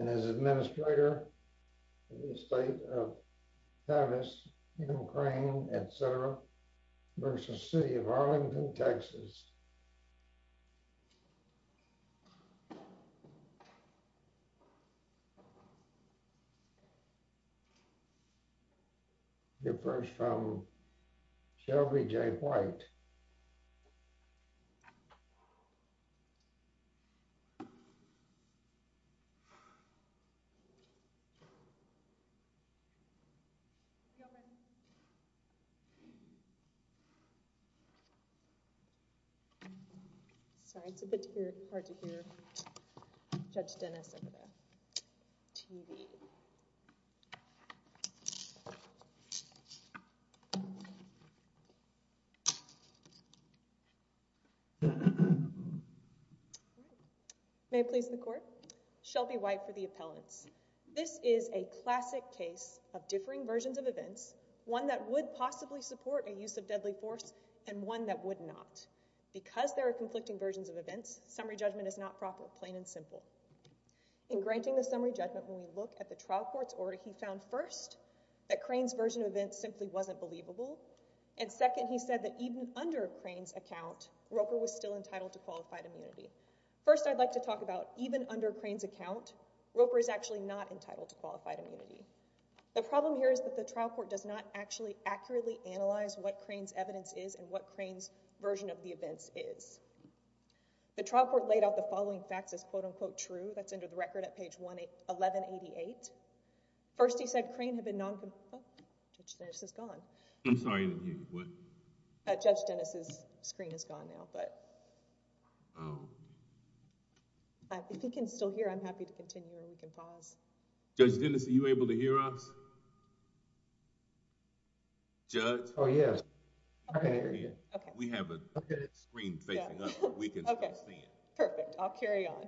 and as Administrator of the State of Tavis, Ukraine, etc. v. City of Arlington, Texas. Refers from Shelby J. White. Sorry, it's a bit hard to hear Judge Dennis over the TV. May it please the Court? Shelby White for the appellants. This is a classic case of differing versions of events. One that would possibly support a use of deadly force and one that would not. Because there are conflicting versions of events, summary judgment is not proper, plain, and simple. In granting the summary judgment, when we look at the trial court's order, he found first, that Crane's version of events simply wasn't believable. And second, he said that even under Crane's account, Roper was still entitled to qualified immunity. First, I'd like to talk about even under Crane's account, Roper is actually not entitled to qualified immunity. The problem here is that the trial court does not actually accurately analyze what Crane's evidence is and what Crane's version of the events is. The trial court laid out the following facts as quote-unquote true. That's under the record at page 1188. First, he said Crane had been non-con... Oh, Judge Dennis is gone. I'm sorry, what? Judge Dennis's screen is gone now, but... Oh. If he can still hear, I'm happy to continue and we can pause. Judge Dennis, are you able to hear us? Judge? Oh, yes. I can hear you. We have a screen facing up so we can still see it. Perfect. I'll carry on.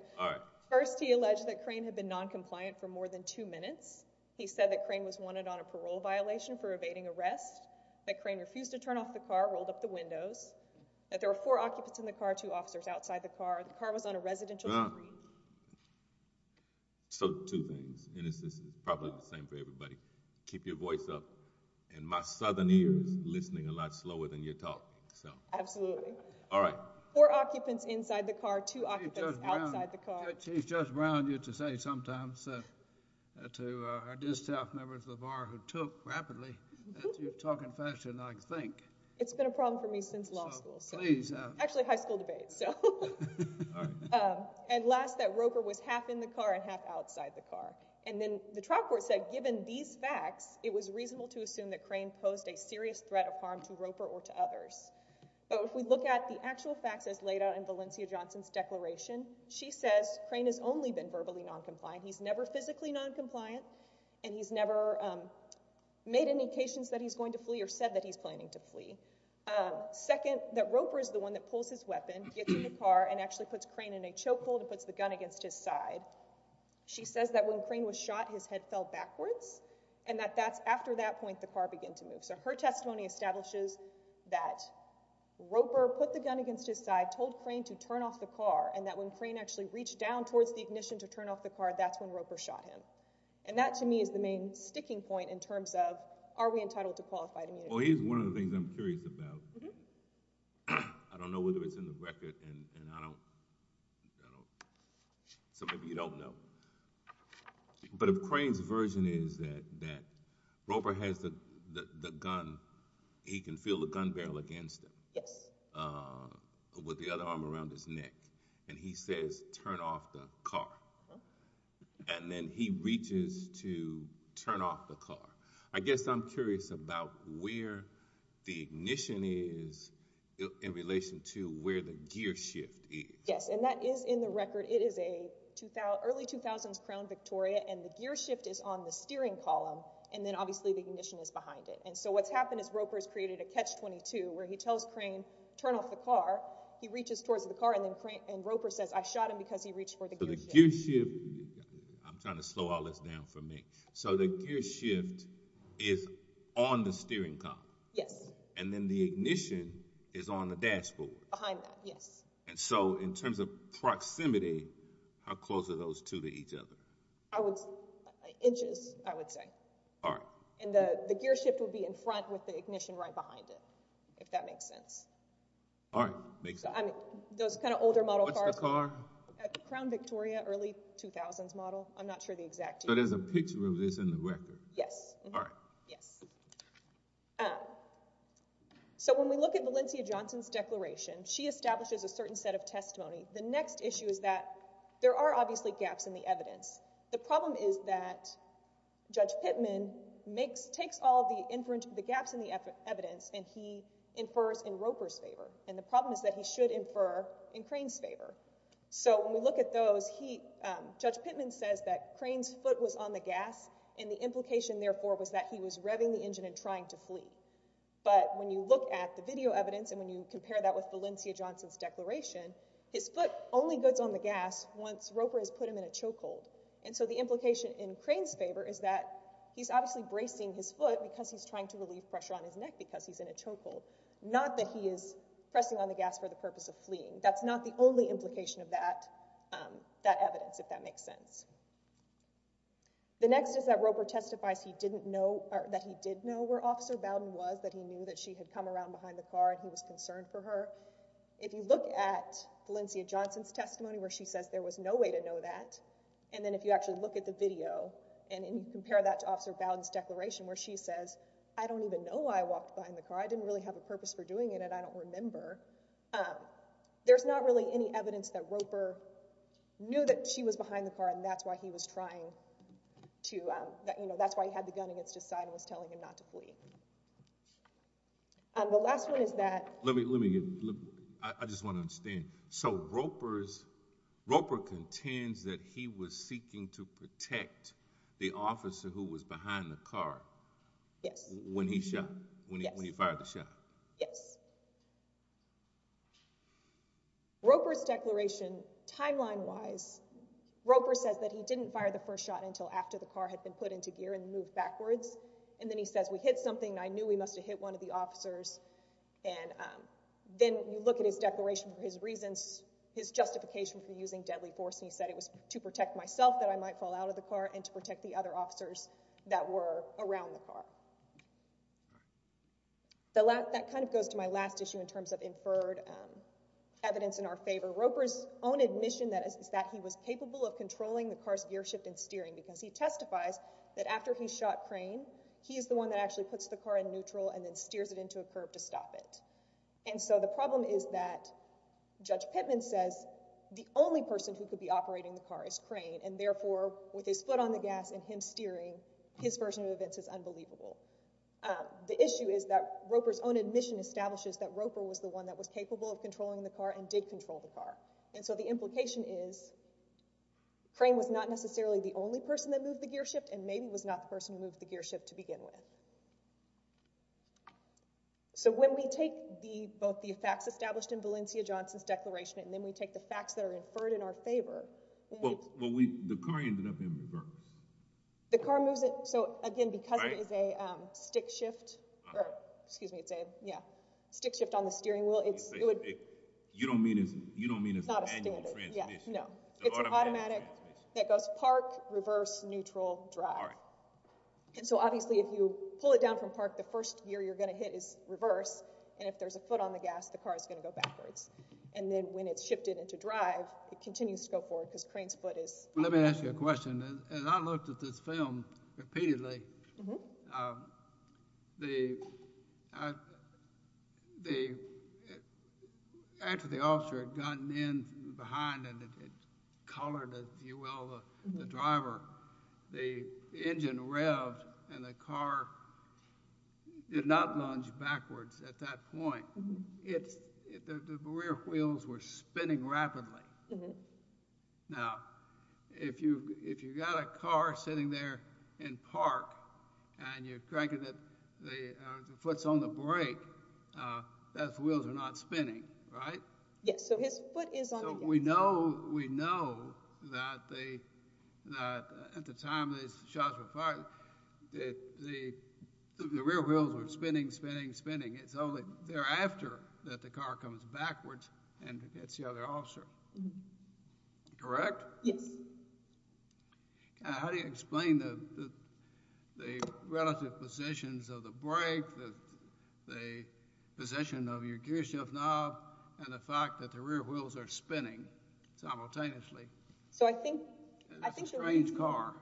First, he alleged that Crane had been non-compliant for more than two minutes. He said that Crane was wanted on a parole violation for evading arrest, that Crane refused to turn off the car, rolled up the windows, that there were four occupants in the car, two officers outside the car, the car was on a residential street. So two things. Dennis, this is probably the same for everybody. Keep your voice up. And my southern ear is listening a lot slower than your talk. Absolutely. All right. Four occupants inside the car, two occupants outside the car. Chief Judge Brown used to say sometimes to our distaff members of the bar who took rapidly that you're talking faster than I can think. It's been a problem for me since law school. Actually, high school debates. And last, that Roper was half in the car and half outside the car. And then the trial court said given these facts, it was reasonable to assume that Crane posed a serious threat of harm to Roper or to others. But if we look at the actual facts as laid out in Valencia Johnson's declaration, she says Crane has only been verbally non-compliant. He's never physically non-compliant, and he's never made any occasions that he's going to flee or said that he's planning to flee. Second, that Roper is the one that pulls his weapon, gets in the car, and actually puts Crane in a chokehold and puts the gun against his side. She says that when Crane was shot, his head fell backwards, and that that's after that point the car began to move. So her testimony establishes that Roper put the gun against his side, told Crane to turn off the car, and that when Crane actually reached down towards the ignition to turn off the car, that's when Roper shot him. And that, to me, is the main sticking point in terms of are we entitled to qualified immunity? Well, here's one of the things I'm curious about. I don't know whether it's in the record, and I don't know. So maybe you don't know. But if Crane's version is that Roper has the gun, he can feel the gun barrel against him with the other arm around his neck, and he says, turn off the car. And then he reaches to turn off the car. I guess I'm curious about where the ignition is in relation to where the gear shift is. Yes, and that is in the record. It is early 2000s Crown Victoria, and the gear shift is on the steering column, and then obviously the ignition is behind it. And so what's happened is Roper's created a catch-22 where he tells Crane, turn off the car. He reaches towards the car, and Roper says, I shot him because he reached for the gear shift. So the gear shift—I'm trying to slow all this down for me. So the gear shift is on the steering column. Yes. And then the ignition is on the dashboard. Behind that, yes. And so in terms of proximity, how close are those two to each other? Inches, I would say. All right. And the gear shift would be in front with the ignition right behind it, if that makes sense. All right, makes sense. Those kind of older model cars— What's the car? Crown Victoria, early 2000s model. I'm not sure the exact year. So there's a picture of this in the record? Yes. All right. Yes. So when we look at Valencia Johnson's declaration, she establishes a certain set of testimony. The next issue is that there are obviously gaps in the evidence. The problem is that Judge Pittman takes all the gaps in the evidence and he infers in Roper's favor, and the problem is that he should infer in Crane's favor. So when we look at those, Judge Pittman says that Crane's foot was on the gas, and the implication, therefore, was that he was revving the engine and trying to flee. But when you look at the video evidence and when you compare that with Valencia Johnson's declaration, his foot only goes on the gas once Roper has put him in a chokehold. And so the implication in Crane's favor is that he's obviously bracing his foot because he's trying to relieve pressure on his neck because he's in a chokehold, not that he is pressing on the gas for the purpose of fleeing. That's not the only implication of that evidence, if that makes sense. The next is that Roper testifies that he did know where Officer Bowden was, that he knew that she had come around behind the car and he was concerned for her. If you look at Valencia Johnson's testimony where she says there was no way to know that, and then if you actually look at the video and you compare that to Officer Bowden's declaration where she says, I don't even know why I walked behind the car. I didn't really have a purpose for doing it and I don't remember. There's not really any evidence that Roper knew that she was behind the car and that's why he was trying to, you know, that's why he had the gun against his side and was telling him not to flee. The last one is that... Let me, I just want to understand. So Roper contends that he was seeking to protect the officer who was behind the car... Yes. ...when he shot, when he fired the shot. Yes. Yes. Roper's declaration, timeline-wise, Roper says that he didn't fire the first shot until after the car had been put into gear and moved backwards and then he says, we hit something, I knew we must have hit one of the officers and then you look at his declaration for his reasons, his justification for using deadly force, and he said it was to protect myself that I might fall out of the car and to protect the other officers that were around the car. That kind of goes to my last issue in terms of inferred evidence in our favor. Roper's own admission is that he was capable of controlling the car's gear shift and steering because he testifies that after he shot Crane, he is the one that actually puts the car in neutral and then steers it into a curve to stop it. And so the problem is that Judge Pittman says the only person who could be operating the car is Crane and therefore with his foot on the gas and him steering, his version of events is unbelievable. The issue is that Roper's own admission establishes that Roper was the one that was capable of controlling the car and did control the car. And so the implication is Crane was not necessarily the only person that moved the gear shift and maybe was not the person who moved the gear shift to begin with. So when we take both the facts established in Valencia Johnson's declaration and then we take the facts that are inferred in our favor. Well, the car ended up in reverse. The car moves it, so again, because it is a stick shift, or excuse me, it's a stick shift on the steering wheel. You don't mean it's an annual transmission? No, it's an automatic that goes park, reverse, neutral, drive. And so obviously if you pull it down from park, the first gear you're going to hit is reverse and if there's a foot on the gas, the car is going to go backwards. And then when it's shifted into drive, it continues to go forward because Crane's foot is... Let me ask you a question. As I looked at this film repeatedly, after the officer had gotten in behind and had collared, if you will, the driver, the engine revved and the car did not lunge backwards at that point. The rear wheels were spinning rapidly. Now, if you've got a car sitting there in park and you're cranking it, the foot's on the brake, those wheels are not spinning, right? Yes, so his foot is on the gas. So we know that at the time these shots were fired, the rear wheels were spinning, spinning, spinning. It's only thereafter that the car comes backwards and hits the other officer, correct? Yes. How do you explain the relative positions of the brake, the position of your gear shift knob, and the fact that the rear wheels are spinning simultaneously? So I think... It's a strange car.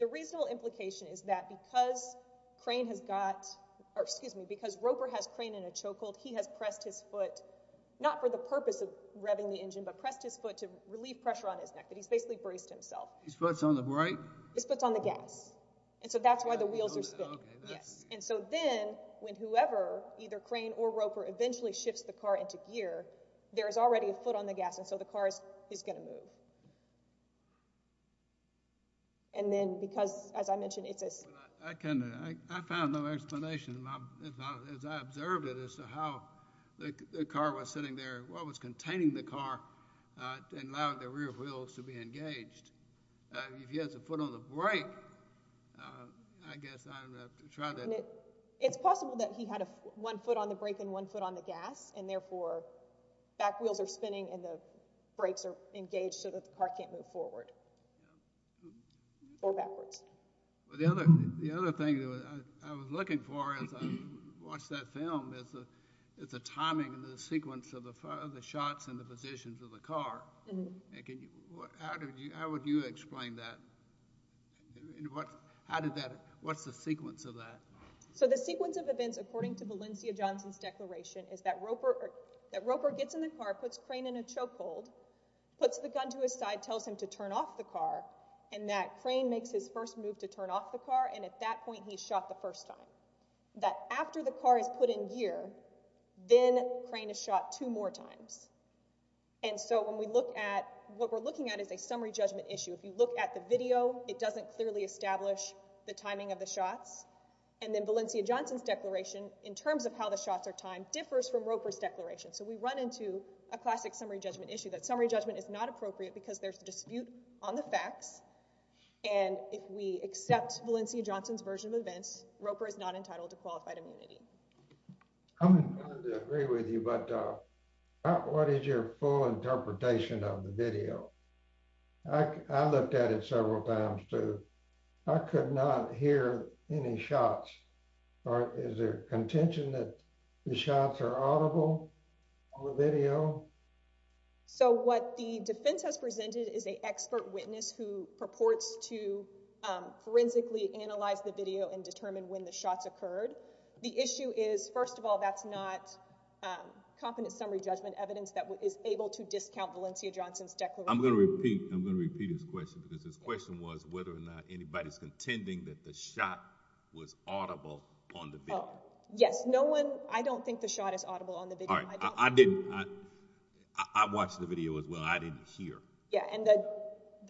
The reasonable implication is that because Crane has got... Excuse me, because Roper has Crane in a chokehold, he has pressed his foot, not for the purpose of revving the engine, but pressed his foot to relieve pressure on his neck, but he's basically braced himself. His foot's on the brake? His foot's on the gas. And so that's why the wheels are spinning. And so then, when whoever, either Crane or Roper, eventually shifts the car into gear, there is already a foot on the gas, and so the car is going to move. And then because, as I mentioned, it's a... I found no explanation, as I observed it, as to how the car was sitting there, what was containing the car, and allowed the rear wheels to be engaged. If he has a foot on the brake, I guess I'd have to try to... It's possible that he had one foot on the brake and one foot on the gas, and therefore back wheels are spinning and the brakes are engaged so that the car can't move forward or backwards. The other thing I was looking for as I watched that film is the timing and the sequence of the shots and the positions of the car. How would you explain that? How did that... What's the sequence of that? So the sequence of events, according to Valencia Johnson's declaration, is that Roper gets in the car, puts Crane in a choke hold, puts the gun to his side, tells him to turn off the car, and that Crane makes his first move to turn off the car, and at that point he's shot the first time. That after the car is put in gear, then Crane is shot two more times. And so when we look at... What we're looking at is a summary judgment issue. If you look at the video, it doesn't clearly establish the timing of the shots. And then Valencia Johnson's declaration, in terms of how the shots are timed, differs from Roper's declaration. So we run into a classic summary judgment issue, that summary judgment is not appropriate because there's a dispute on the facts, and if we accept Valencia Johnson's version of events, Roper is not entitled to qualified immunity. I'm inclined to agree with you, but what is your full interpretation of the video? I looked at it several times, too. I could not hear any shots. Is there contention that the shots are audible on the video? So what the defense has presented is an expert witness who purports to forensically analyze the video and determine when the shots occurred. The issue is, first of all, that's not confident summary judgment evidence that is able to discount Valencia Johnson's declaration. I'm going to repeat his question, because his question was whether or not anybody's contending that the shot was audible on the video. Yes, I don't think the shot is audible on the video. I watched the video as well. I didn't hear.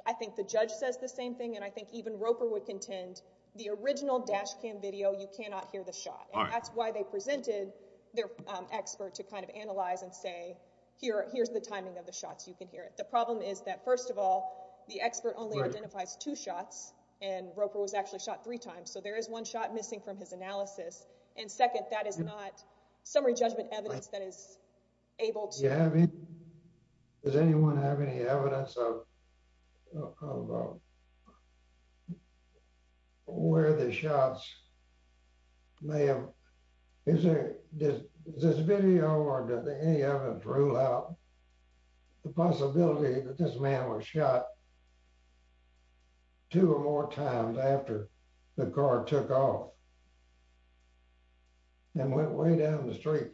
I think the judge says the same thing, and I think even Roper would contend the original dash cam video, you cannot hear the shot. That's why they presented their expert to kind of analyze and say, here's the timing of the shots. You can hear it. The problem is that, first of all, the expert only identifies two shots, and Roper was actually shot three times, so there is one shot missing from his analysis, and second, that is not summary judgment evidence that is able to. Does anyone have any evidence of where the shots may have, is there, does this video or does any evidence rule out the possibility that this man was shot two or more times after the car took off and went way down the street?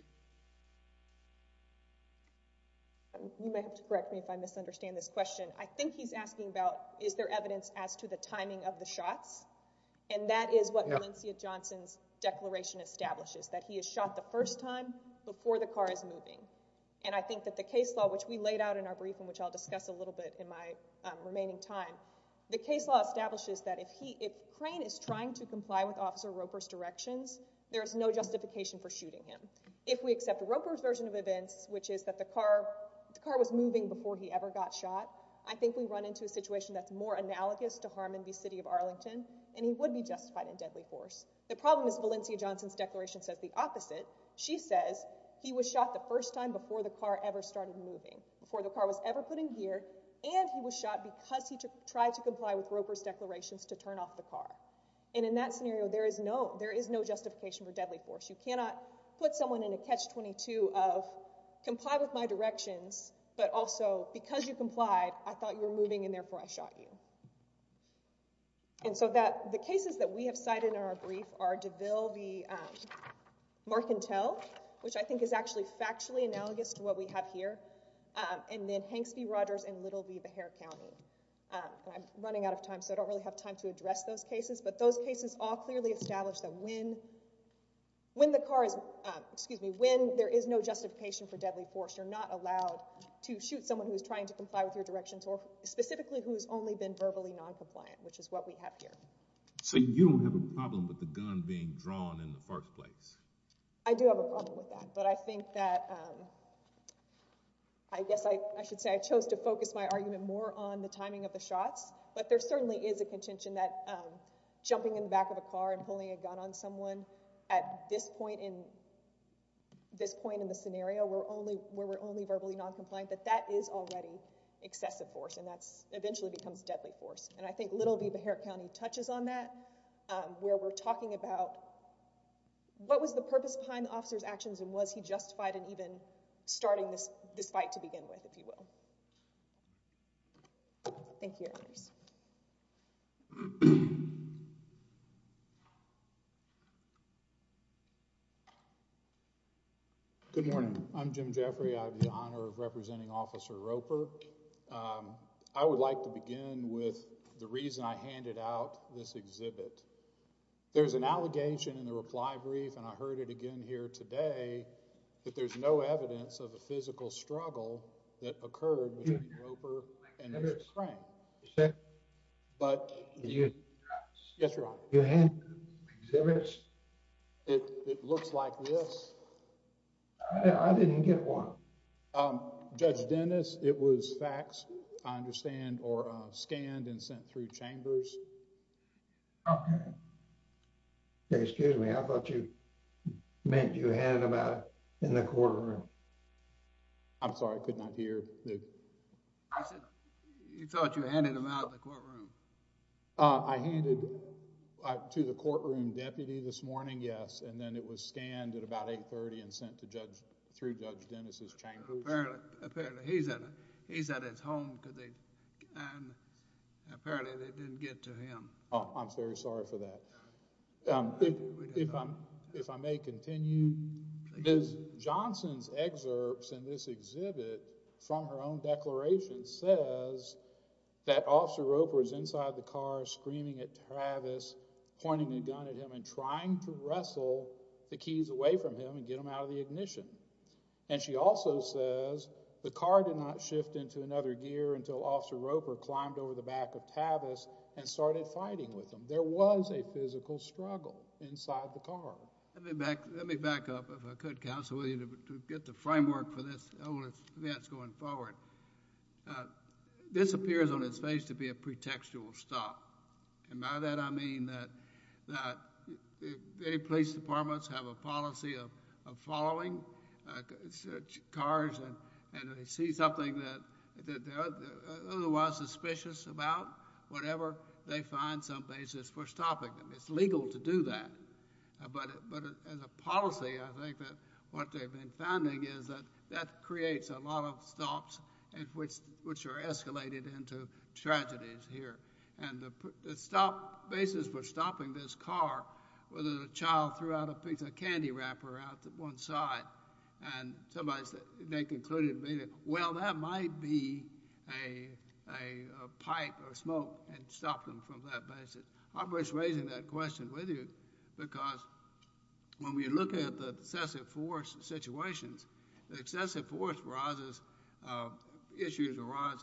You may have to correct me if I misunderstand this question. I think he's asking about is there evidence as to the timing of the shots, and that is what Valencia Johnson's declaration establishes, that he is shot the first time before the car is moving, and I think that the case law, which we laid out in our briefing, which I'll discuss a little bit in my remaining time, the case law establishes that if Crane is trying to comply with Officer Roper's directions, there is no justification for shooting him. If we accept Roper's version of events, which is that the car was moving before he ever got shot, I think we run into a situation that's more analogous to Harmon v. City of Arlington, and he would be justified in deadly force. The problem is Valencia Johnson's declaration says the opposite. She says he was shot the first time before the car ever started moving, before the car was ever put in gear, and he was shot because he tried to comply with Roper's declarations to turn off the car. And in that scenario, there is no justification for deadly force. You cannot put someone in a catch-22 of comply with my directions, but also because you complied, I thought you were moving, and therefore I shot you. And so the cases that we have cited in our brief are DeVille v. Marcantel, which I think is actually factually analogous to what we have here, and then Hanks v. Rogers and Little v. Behar County. I'm running out of time, so I don't really have time to address those cases, but those cases all clearly establish that when the car is— excuse me, when there is no justification for deadly force, you're not allowed to shoot someone who's trying to comply with your directions or specifically who's only been verbally noncompliant, which is what we have here. So you don't have a problem with the gun being drawn in the first place? I do have a problem with that, but I think that—I guess I should say I chose to focus my argument more on the timing of the shots, but there certainly is a contention that jumping in the back of a car and pulling a gun on someone at this point in the scenario where we're only verbally noncompliant, that that is already excessive force, and that eventually becomes deadly force. And I think Little v. Behar County touches on that, and was he justified in even starting this fight to begin with, if you will. Thank you. Good morning. I'm Jim Jeffrey. I have the honor of representing Officer Roper. I would like to begin with the reason I handed out this exhibit. There's an allegation in the reply brief, and I heard it again here today, that there's no evidence of a physical struggle that occurred between Roper and this crane. But... Yes, Your Honor. It looks like this. Judge Dennis, it was faxed, I understand, or scanned and sent through chambers. Excuse me, I thought you meant you handed them out in the courtroom. I'm sorry, I could not hear. I said, you thought you handed them out in the courtroom. I handed to the courtroom deputy this morning, yes, and then it was scanned at about 8.30 and sent to Judge... through Judge Dennis' chambers. Apparently, he's at his home because they... apparently they didn't get to him. I'm very sorry for that. If I may continue, Ms. Johnson's excerpts in this exhibit from her own declaration says that Officer Roper is inside the car screaming at Tavis, pointing a gun at him and trying to wrestle the keys away from him and get them out of the ignition. And she also says the car did not shift into another gear until Officer Roper climbed over the back of Tavis and started fighting with him. There was a physical struggle inside the car. Let me back up, if I could, counsel, to get the framework for this event going forward. This appears on its face to be a pretextual stop. And by that I mean that if any police departments have a policy of following cars and they see something that they're otherwise suspicious about, whatever, they find some basis for stopping them. It's legal to do that. But as a policy, I think that what they've been finding is that that creates a lot of stops which are escalated into tragedies here. And the basis for stopping this car was that a child threw out a piece of candy wrapper out to one side and they concluded, well, that might be a pipe or smoke and stopped them from that basis. I'm just raising that question with you because when we look at the excessive force situations, the excessive force issues arise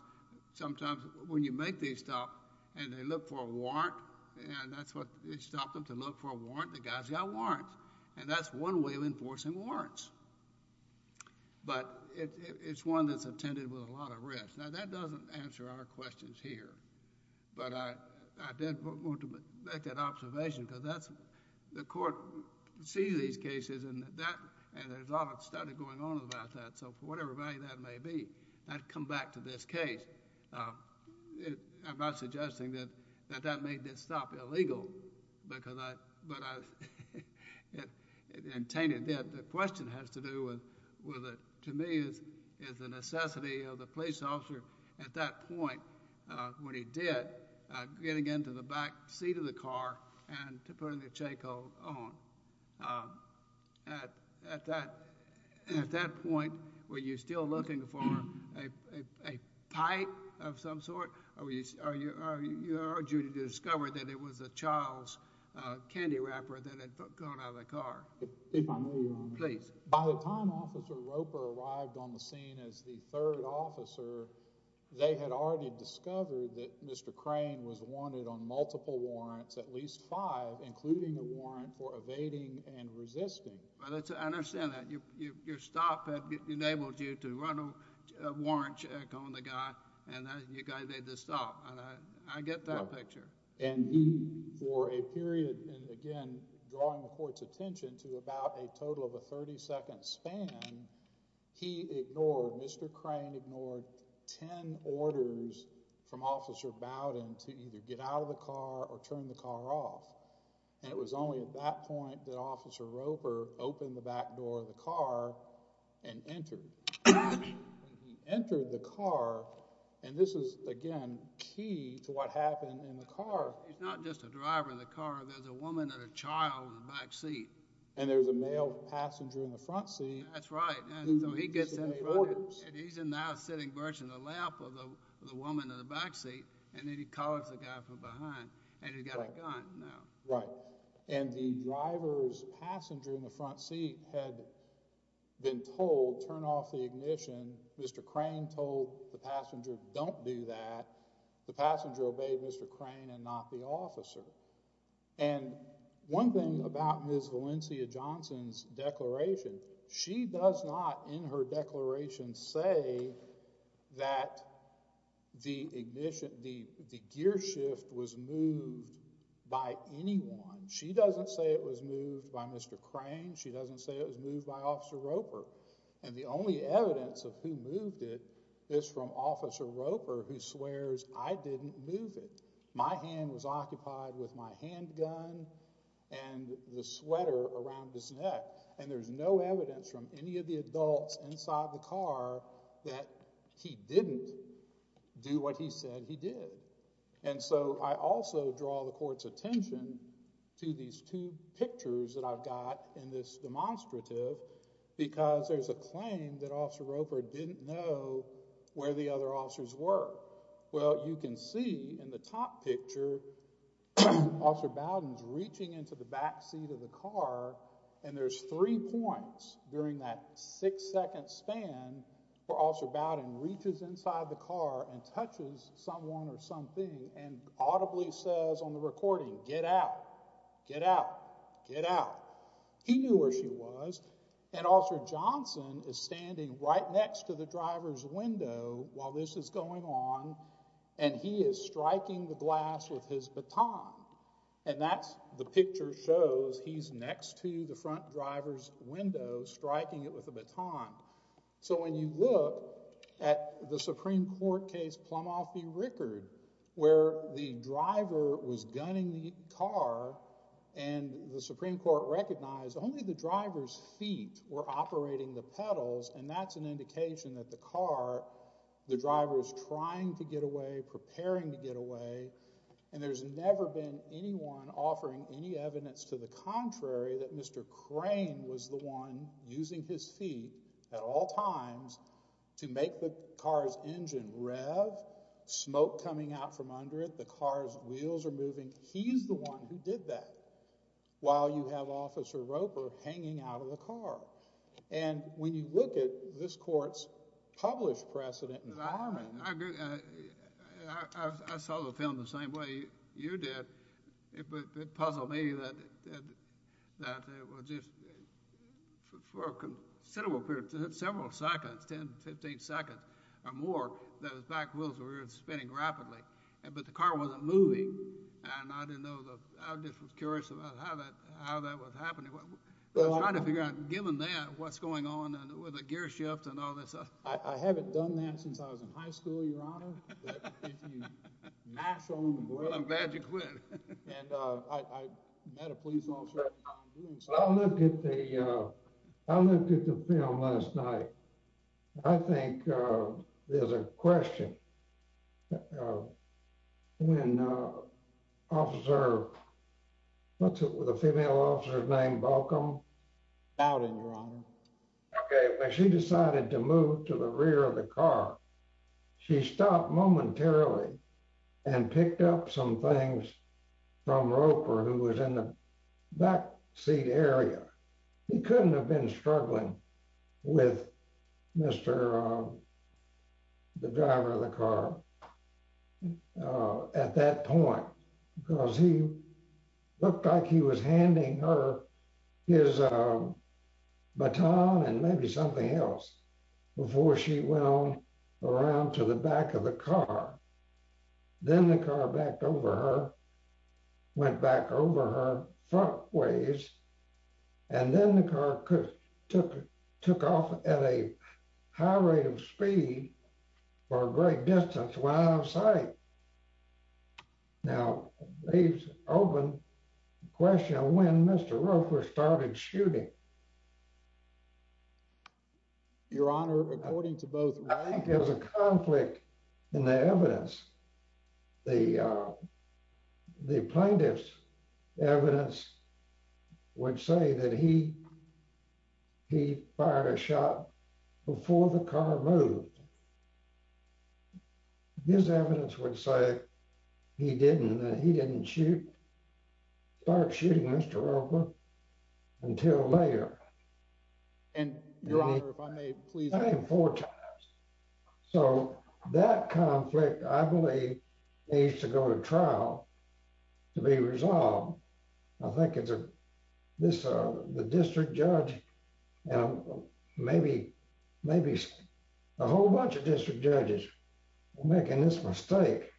sometimes when you make these stops and they look for a warrant and that's what stopped them to look for a warrant. The guy's got warrants and that's one way of enforcing warrants. But it's one that's attended with a lot of risk. Now, that doesn't answer our questions here. But I did want to make that observation because the court sees these cases and there's a lot of study going on about that. So for whatever value that may be, I'd come back to this case. I'm not suggesting that that made this stop illegal. The question has to do with, to me, is the necessity of the police officer at that point, when he did, getting into the back seat of the car and putting the chakehold on. At that point, were you still looking for a pipe of some sort? Or did you discover that it was a child's candy wrapper that had gone out of the car? If I may, Your Honor. Please. By the time Officer Roper arrived on the scene as the third officer, they had already discovered that Mr. Crane was wanted on multiple warrants, at least five, including a warrant for evading and resisting. I understand that. Your stop had enabled you to run a warrant check on the guy, and you guys made the stop. I get that picture. And he, for a period, and again, drawing the court's attention to about a total of a 30-second span, he ignored, Mr. Crane ignored 10 orders from Officer Bowden to either get out of the car or turn the car off. And it was only at that point that Officer Roper opened the back door of the car and entered. He entered the car, and this is, again, key to what happened in the car. It's not just a driver in the car. There's a woman and a child in the back seat. And there's a male passenger in the front seat. That's right. So he gets in the front seat, and he's now sitting virtually on the lap of the woman in the back seat, and then he calls the guy from behind, and he's got a gun. Right. And the driver's passenger in the front seat had been told, turn off the ignition. Mr. Crane told the passenger, don't do that. The passenger obeyed Mr. Crane and not the officer. And one thing about Ms. Valencia Johnson's declaration, she does not in her declaration say that the gear shift was moved by anyone. She doesn't say it was moved by Mr. Crane. She doesn't say it was moved by Officer Roper. And the only evidence of who moved it is from Officer Roper, who swears, I didn't move it. My hand was occupied with my handgun and the sweater around his neck. And there's no evidence from any of the adults inside the car that he didn't do what he said he did. And so I also draw the court's attention to these two pictures that I've got in this demonstrative because there's a claim that Officer Roper didn't know where the other officers were. Well, you can see in the top picture, Officer Bowden's reaching into the back seat of the car and there's three points during that six-second span where Officer Bowden reaches inside the car and touches someone or something and audibly says on the recording, get out, get out, get out. He knew where she was. And Officer Johnson is standing right next to the driver's window while this is going on and he is striking the glass with his baton. And that's the picture shows he's next to the front driver's window striking it with a baton. So when you look at the Supreme Court case Plumoff v. Rickard, where the driver was gunning the car and the Supreme Court recognized only the driver's feet were operating the pedals and that's an indication that the car, the driver is trying to get away, preparing to get away. And there's never been anyone offering any evidence to the contrary that Mr. Crane was the one using his feet at all times to make the car's engine rev, smoke coming out from under it, that the car's wheels are moving. He's the one who did that while you have Officer Roper hanging out of the car. And when you look at this court's published precedent in farming. I saw the film the same way you did. It puzzled me that it was just for a considerable period, several seconds, 10, 15 seconds or more, that his back wheels were spinning rapidly, but the car wasn't moving. And I didn't know, I was just curious about how that was happening. I was trying to figure out, given that, what's going on with the gear shifts and all that stuff. I haven't done that since I was in high school, Your Honor. But if you mash on the brakes. Well, I'm glad you quit. And I met a police officer. I looked at the film last night. I think there's a question. When Officer, what's the female officer's name, Balcom? Bowden, Your Honor. Okay, when she decided to move to the rear of the car, she stopped momentarily and picked up some things from Roper who was in the backseat area. He couldn't have been struggling with the driver of the car at that point. Because he looked like he was handing her his baton and maybe something else before she went on around to the back of the car. Then the car backed over her, went back over her front ways. And then the car took off at a high rate of speed for a great distance while out of sight. Now, leaves open the question of when Mr. Roper started shooting. Your Honor, according to both. I think there's a conflict in the evidence. The plaintiff's evidence would say that he fired a shot before the car moved. His evidence would say that he didn't start shooting Mr. Roper until later. Your Honor, if I may, please. The same four times. So that conflict, I believe, needs to go to trial to be resolved. I think the district judge and maybe a whole bunch of district judges are making this mistake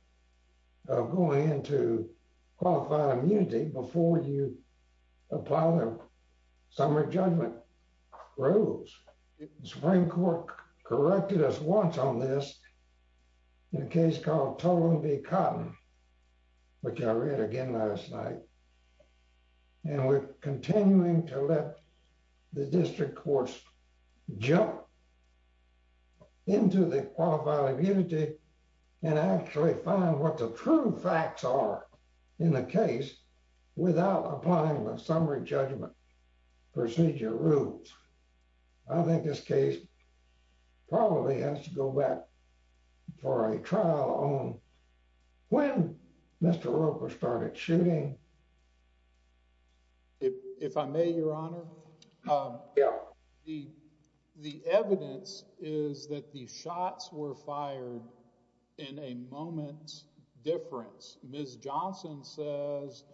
of going into qualified immunity before you apply the summary judgment rules. The Supreme Court corrected us once on this in a case called Tolan v. Cotton, which I read again last night. And we're continuing to let the district courts jump into the qualified immunity and actually find what the true facts are in the case without applying the summary judgment procedure rules. I think this case probably has to go back for a trial on when Mr. Roper started shooting. If I may, Your Honor. Yeah. The evidence is that the shots were fired in a moment's difference. Ms. Johnson says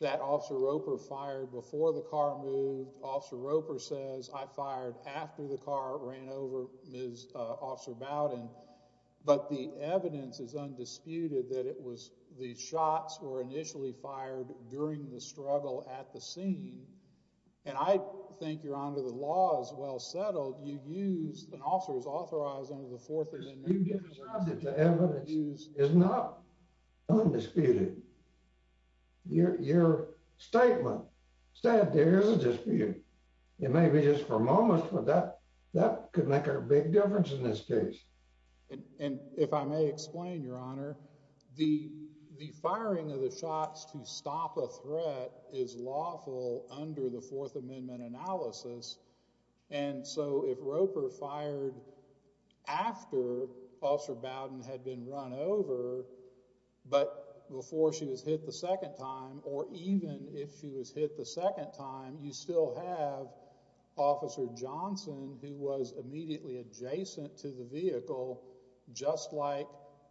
that Officer Roper fired before the car moved. Officer Roper says, I fired after the car ran over Officer Bowden. But the evidence is undisputed that the shots were initially fired during the struggle at the scene. And I think, Your Honor, the law is well settled. You used an officer who's authorized under the Fourth Amendment. The evidence is not undisputed. Your statement said there is a dispute. It may be just for a moment, but that could make a big difference in this case. And if I may explain, Your Honor, the firing of the shots to stop a threat is lawful under the Fourth Amendment analysis. And so if Roper fired after Officer Bowden had been run over, but before she was hit the second time, or even if she was hit the second time, you still have Officer Johnson, who was immediately adjacent to the vehicle, just like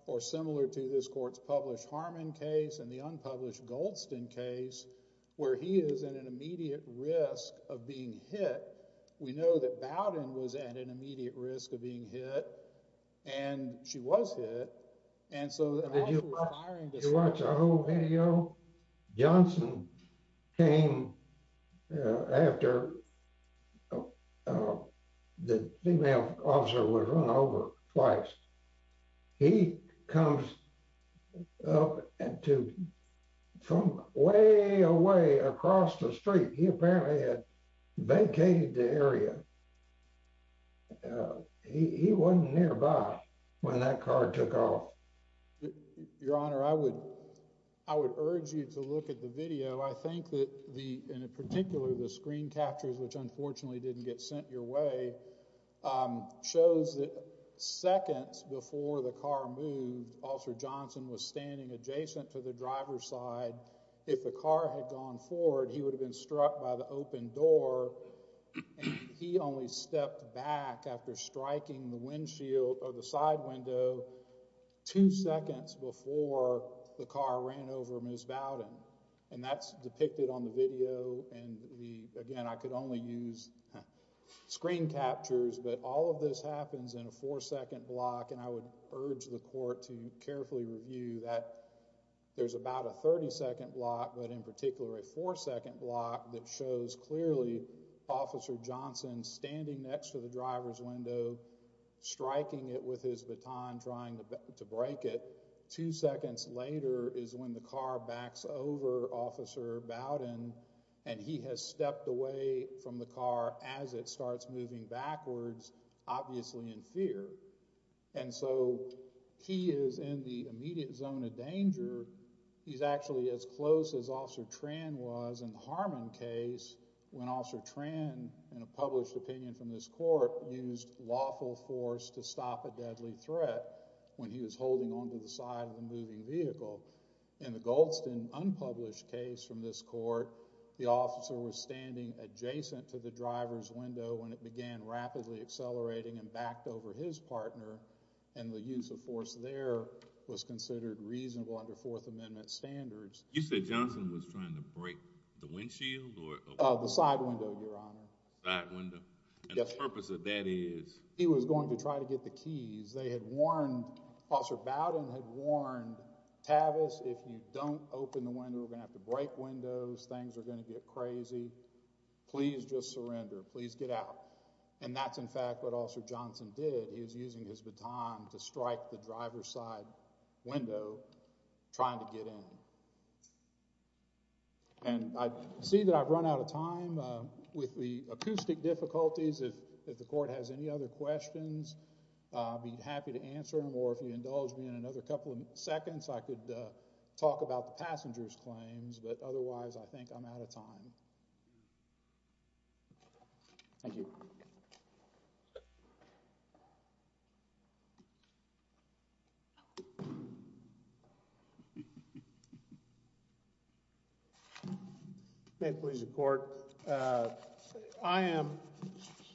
or similar to this court's published Harmon case and the unpublished Goldston case, where he is at an immediate risk of being hit. We know that Bowden was at an immediate risk of being hit. And she was hit. And so after firing the shots. Did you watch our whole video? Johnson came after the female officer was run over twice. He comes up from way away across the street. He apparently had vacated the area. He wasn't nearby when that car took off. Your Honor, I would urge you to look at the video. I think that, in particular, the screen captures, which unfortunately didn't get sent your way, shows that seconds before the car moved, Officer Johnson was standing adjacent to the driver's side. If the car had gone forward, he would have been struck by the open door. And he only stepped back after striking the side window two seconds before the car ran over Ms. Bowden. And that's depicted on the video. And again, I could only use screen captures. But all of this happens in a four-second block. And I would urge the court to carefully review that. There's about a 30-second block, but in particular a four-second block, that shows clearly Officer Johnson standing next to the driver's window, striking it with his baton, trying to break it. Two seconds later is when the car backs over Officer Bowden. And he has stepped away from the car as it starts moving backwards, obviously in fear. And so he is in the immediate zone of danger. He's actually as close as Officer Tran was in the Harmon case when Officer Tran, in a published opinion from this court, used lawful force to stop a deadly threat when he was holding onto the side of the moving vehicle. In the Goldston unpublished case from this court, the officer was standing adjacent to the driver's window when it began rapidly accelerating and backed over his partner. And the use of force there was considered reasonable under Fourth Amendment standards. You said Johnson was trying to break the windshield? The side window, Your Honor. The side window. And the purpose of that is? He was going to try to get the keys. They had warned, Officer Bowden had warned, Tavis, if you don't open the window, we're going to have to break windows. Things are going to get crazy. Please just surrender. Please get out. And that's in fact what Officer Johnson did. He was using his baton to strike the driver's side window, trying to get in. And I see that I've run out of time. With the acoustic difficulties, if the court has any other questions, I'd be happy to answer them. Or if you indulge me in another couple of seconds, I could talk about the passenger's claims. But otherwise, I think I'm out of time. Thank you. May it please the Court. I am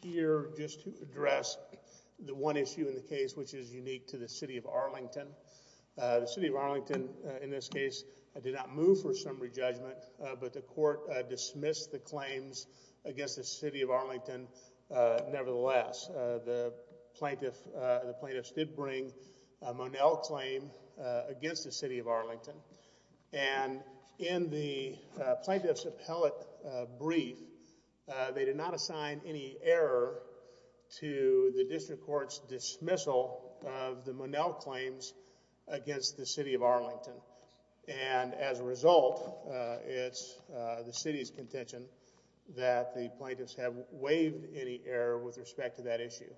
here just to address the one issue in the case which is unique to the City of Arlington. The City of Arlington, in this case, did not move for summary judgment, but the court dismissed the claims against the City of Arlington nevertheless. The plaintiffs did bring a Monell claim against the City of Arlington. And in the plaintiff's appellate brief, they did not assign any error to the district court's dismissal of the Monell claims against the City of Arlington. And as a result, it's the City's contention that the plaintiffs have waived any error with respect to that issue.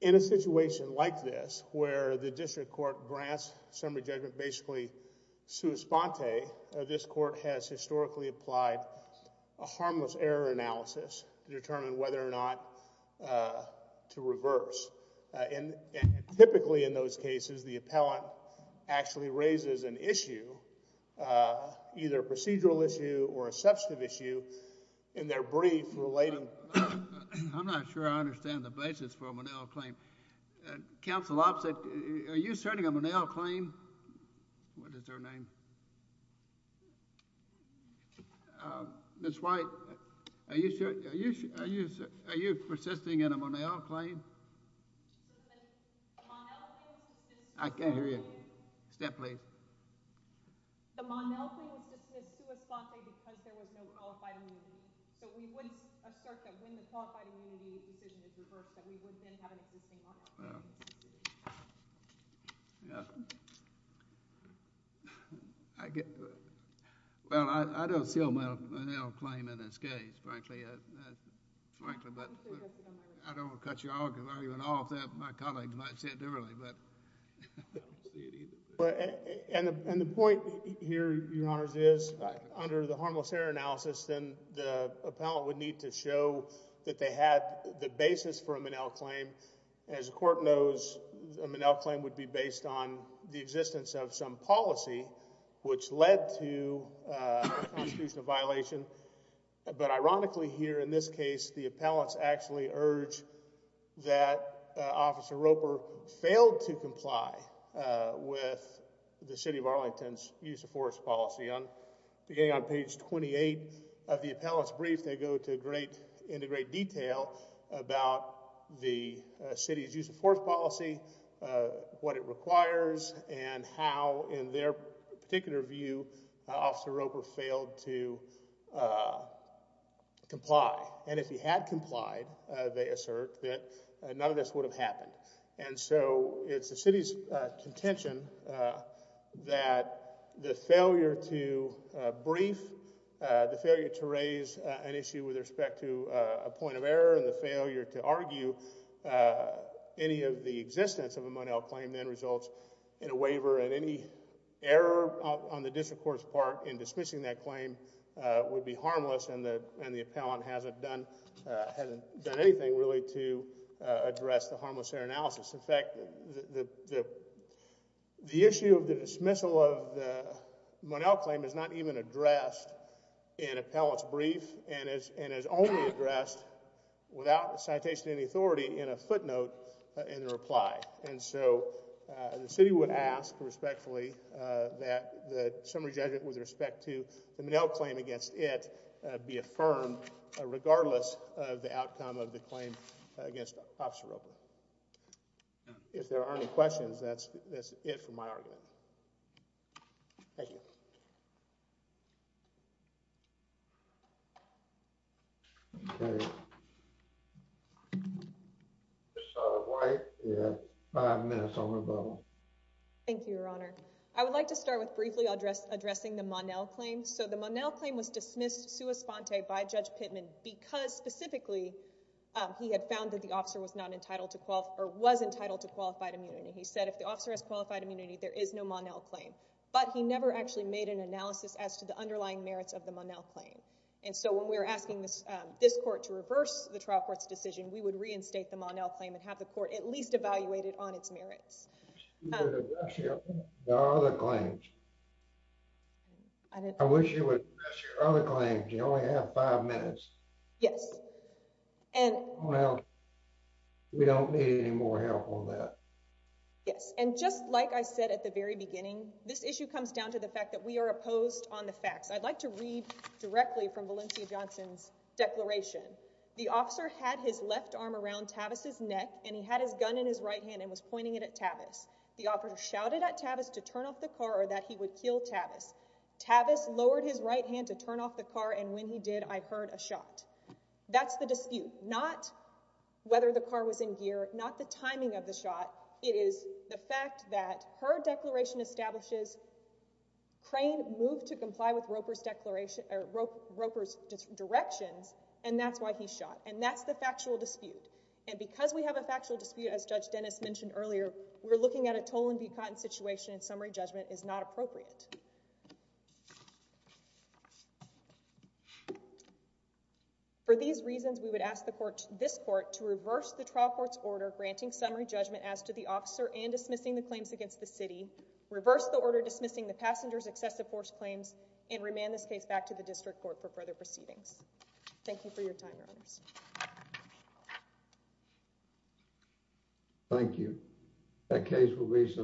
In a situation like this, where the district court grants summary judgment basically sui sponte, this court has historically applied a harmless error analysis to determine whether or not to reverse. And typically in those cases, the appellant actually raises an issue, either a procedural issue or a substantive issue, in their brief relating... I'm not sure I understand the basis for a Monell claim. Counsel Oppsitt, are you asserting a Monell claim? What is her name? Ms. White, are you persisting in a Monell claim? I can't hear you. Step, please. The Monell claim was dismissed sui sponte because there was no qualified immunity. So we would assert that when the qualified immunity decision is reversed, that we would then have an existing Monell claim. Well, I don't see a Monell claim in this case, frankly. But I don't want to cut you off. My colleagues might say it differently, but I don't see it either. And the point here, Your Honors, is under the harmless error analysis, then the appellant would need to show that they had the basis for a Monell claim. As the court knows, a Monell claim would be based on the existence of some policy which led to a constitutional violation. But ironically here in this case, the appellants actually urge that Officer Roper failed to comply with the City of Arlington's use of force policy. Beginning on page 28 of the appellant's brief, they go into great detail about the city's use of force policy, what it requires, and how in their particular view Officer Roper failed to comply. And if he had complied, they assert, that none of this would have happened. And so it's the city's contention that the failure to brief, the failure to raise an issue with respect to a point of error, and the failure to argue any of the existence of a Monell claim, then results in a waiver. And any error on the district court's part in dismissing that claim would be harmless, and the appellant hasn't done anything really to address the harmless error analysis. In fact, the issue of the dismissal of the Monell claim is not even addressed in appellant's brief, and is only addressed without a citation of any authority in a footnote in the reply. And so the city would ask respectfully that the summary judgment with respect to the Monell claim against it be affirmed, regardless of the outcome of the claim against Officer Roper. If there are any questions, that's it for my argument. Thank you. Ms. White, you have five minutes on the vote. Thank you, Your Honor. I would like to start with briefly addressing the Monell claim. So the Monell claim was dismissed sua sponte by Judge Pittman because, specifically, he had found that the officer was entitled to qualified immunity. He said if the officer has qualified immunity, there is no Monell claim. But he never actually made an analysis as to the underlying merits of the Monell claim. And so when we were asking this court to reverse the trial court's decision, we would reinstate the Monell claim and have the court at least evaluate it on its merits. There are other claims. I wish you would address your other claims. You only have five minutes. Yes. Well, we don't need any more help on that. Yes, and just like I said at the very beginning, this issue comes down to the fact that we are opposed on the facts. I'd like to read directly from Valencia Johnson's declaration. The officer had his left arm around Tavis's neck, and he had his gun in his right hand and was pointing it at Tavis. The officer shouted at Tavis to turn off the car or that he would kill Tavis. Tavis lowered his right hand to turn off the car, and when he did, I heard a shot. That's the dispute, not whether the car was in gear, not the timing of the shot. It is the fact that her declaration establishes Crane moved to comply with Roper's directions, and that's why he shot. And that's the factual dispute. And because we have a factual dispute, as Judge Dennis mentioned earlier, we're looking at a toll-and-be-caught situation, and summary judgment is not appropriate. For these reasons, we would ask this court to reverse the trial court's order granting summary judgment as to the officer and dismissing the claims against the city, reverse the order dismissing the passenger's excessive force claims, and remand this case back to the district court for further proceedings. Thank you for your time, Your Honors. Thank you.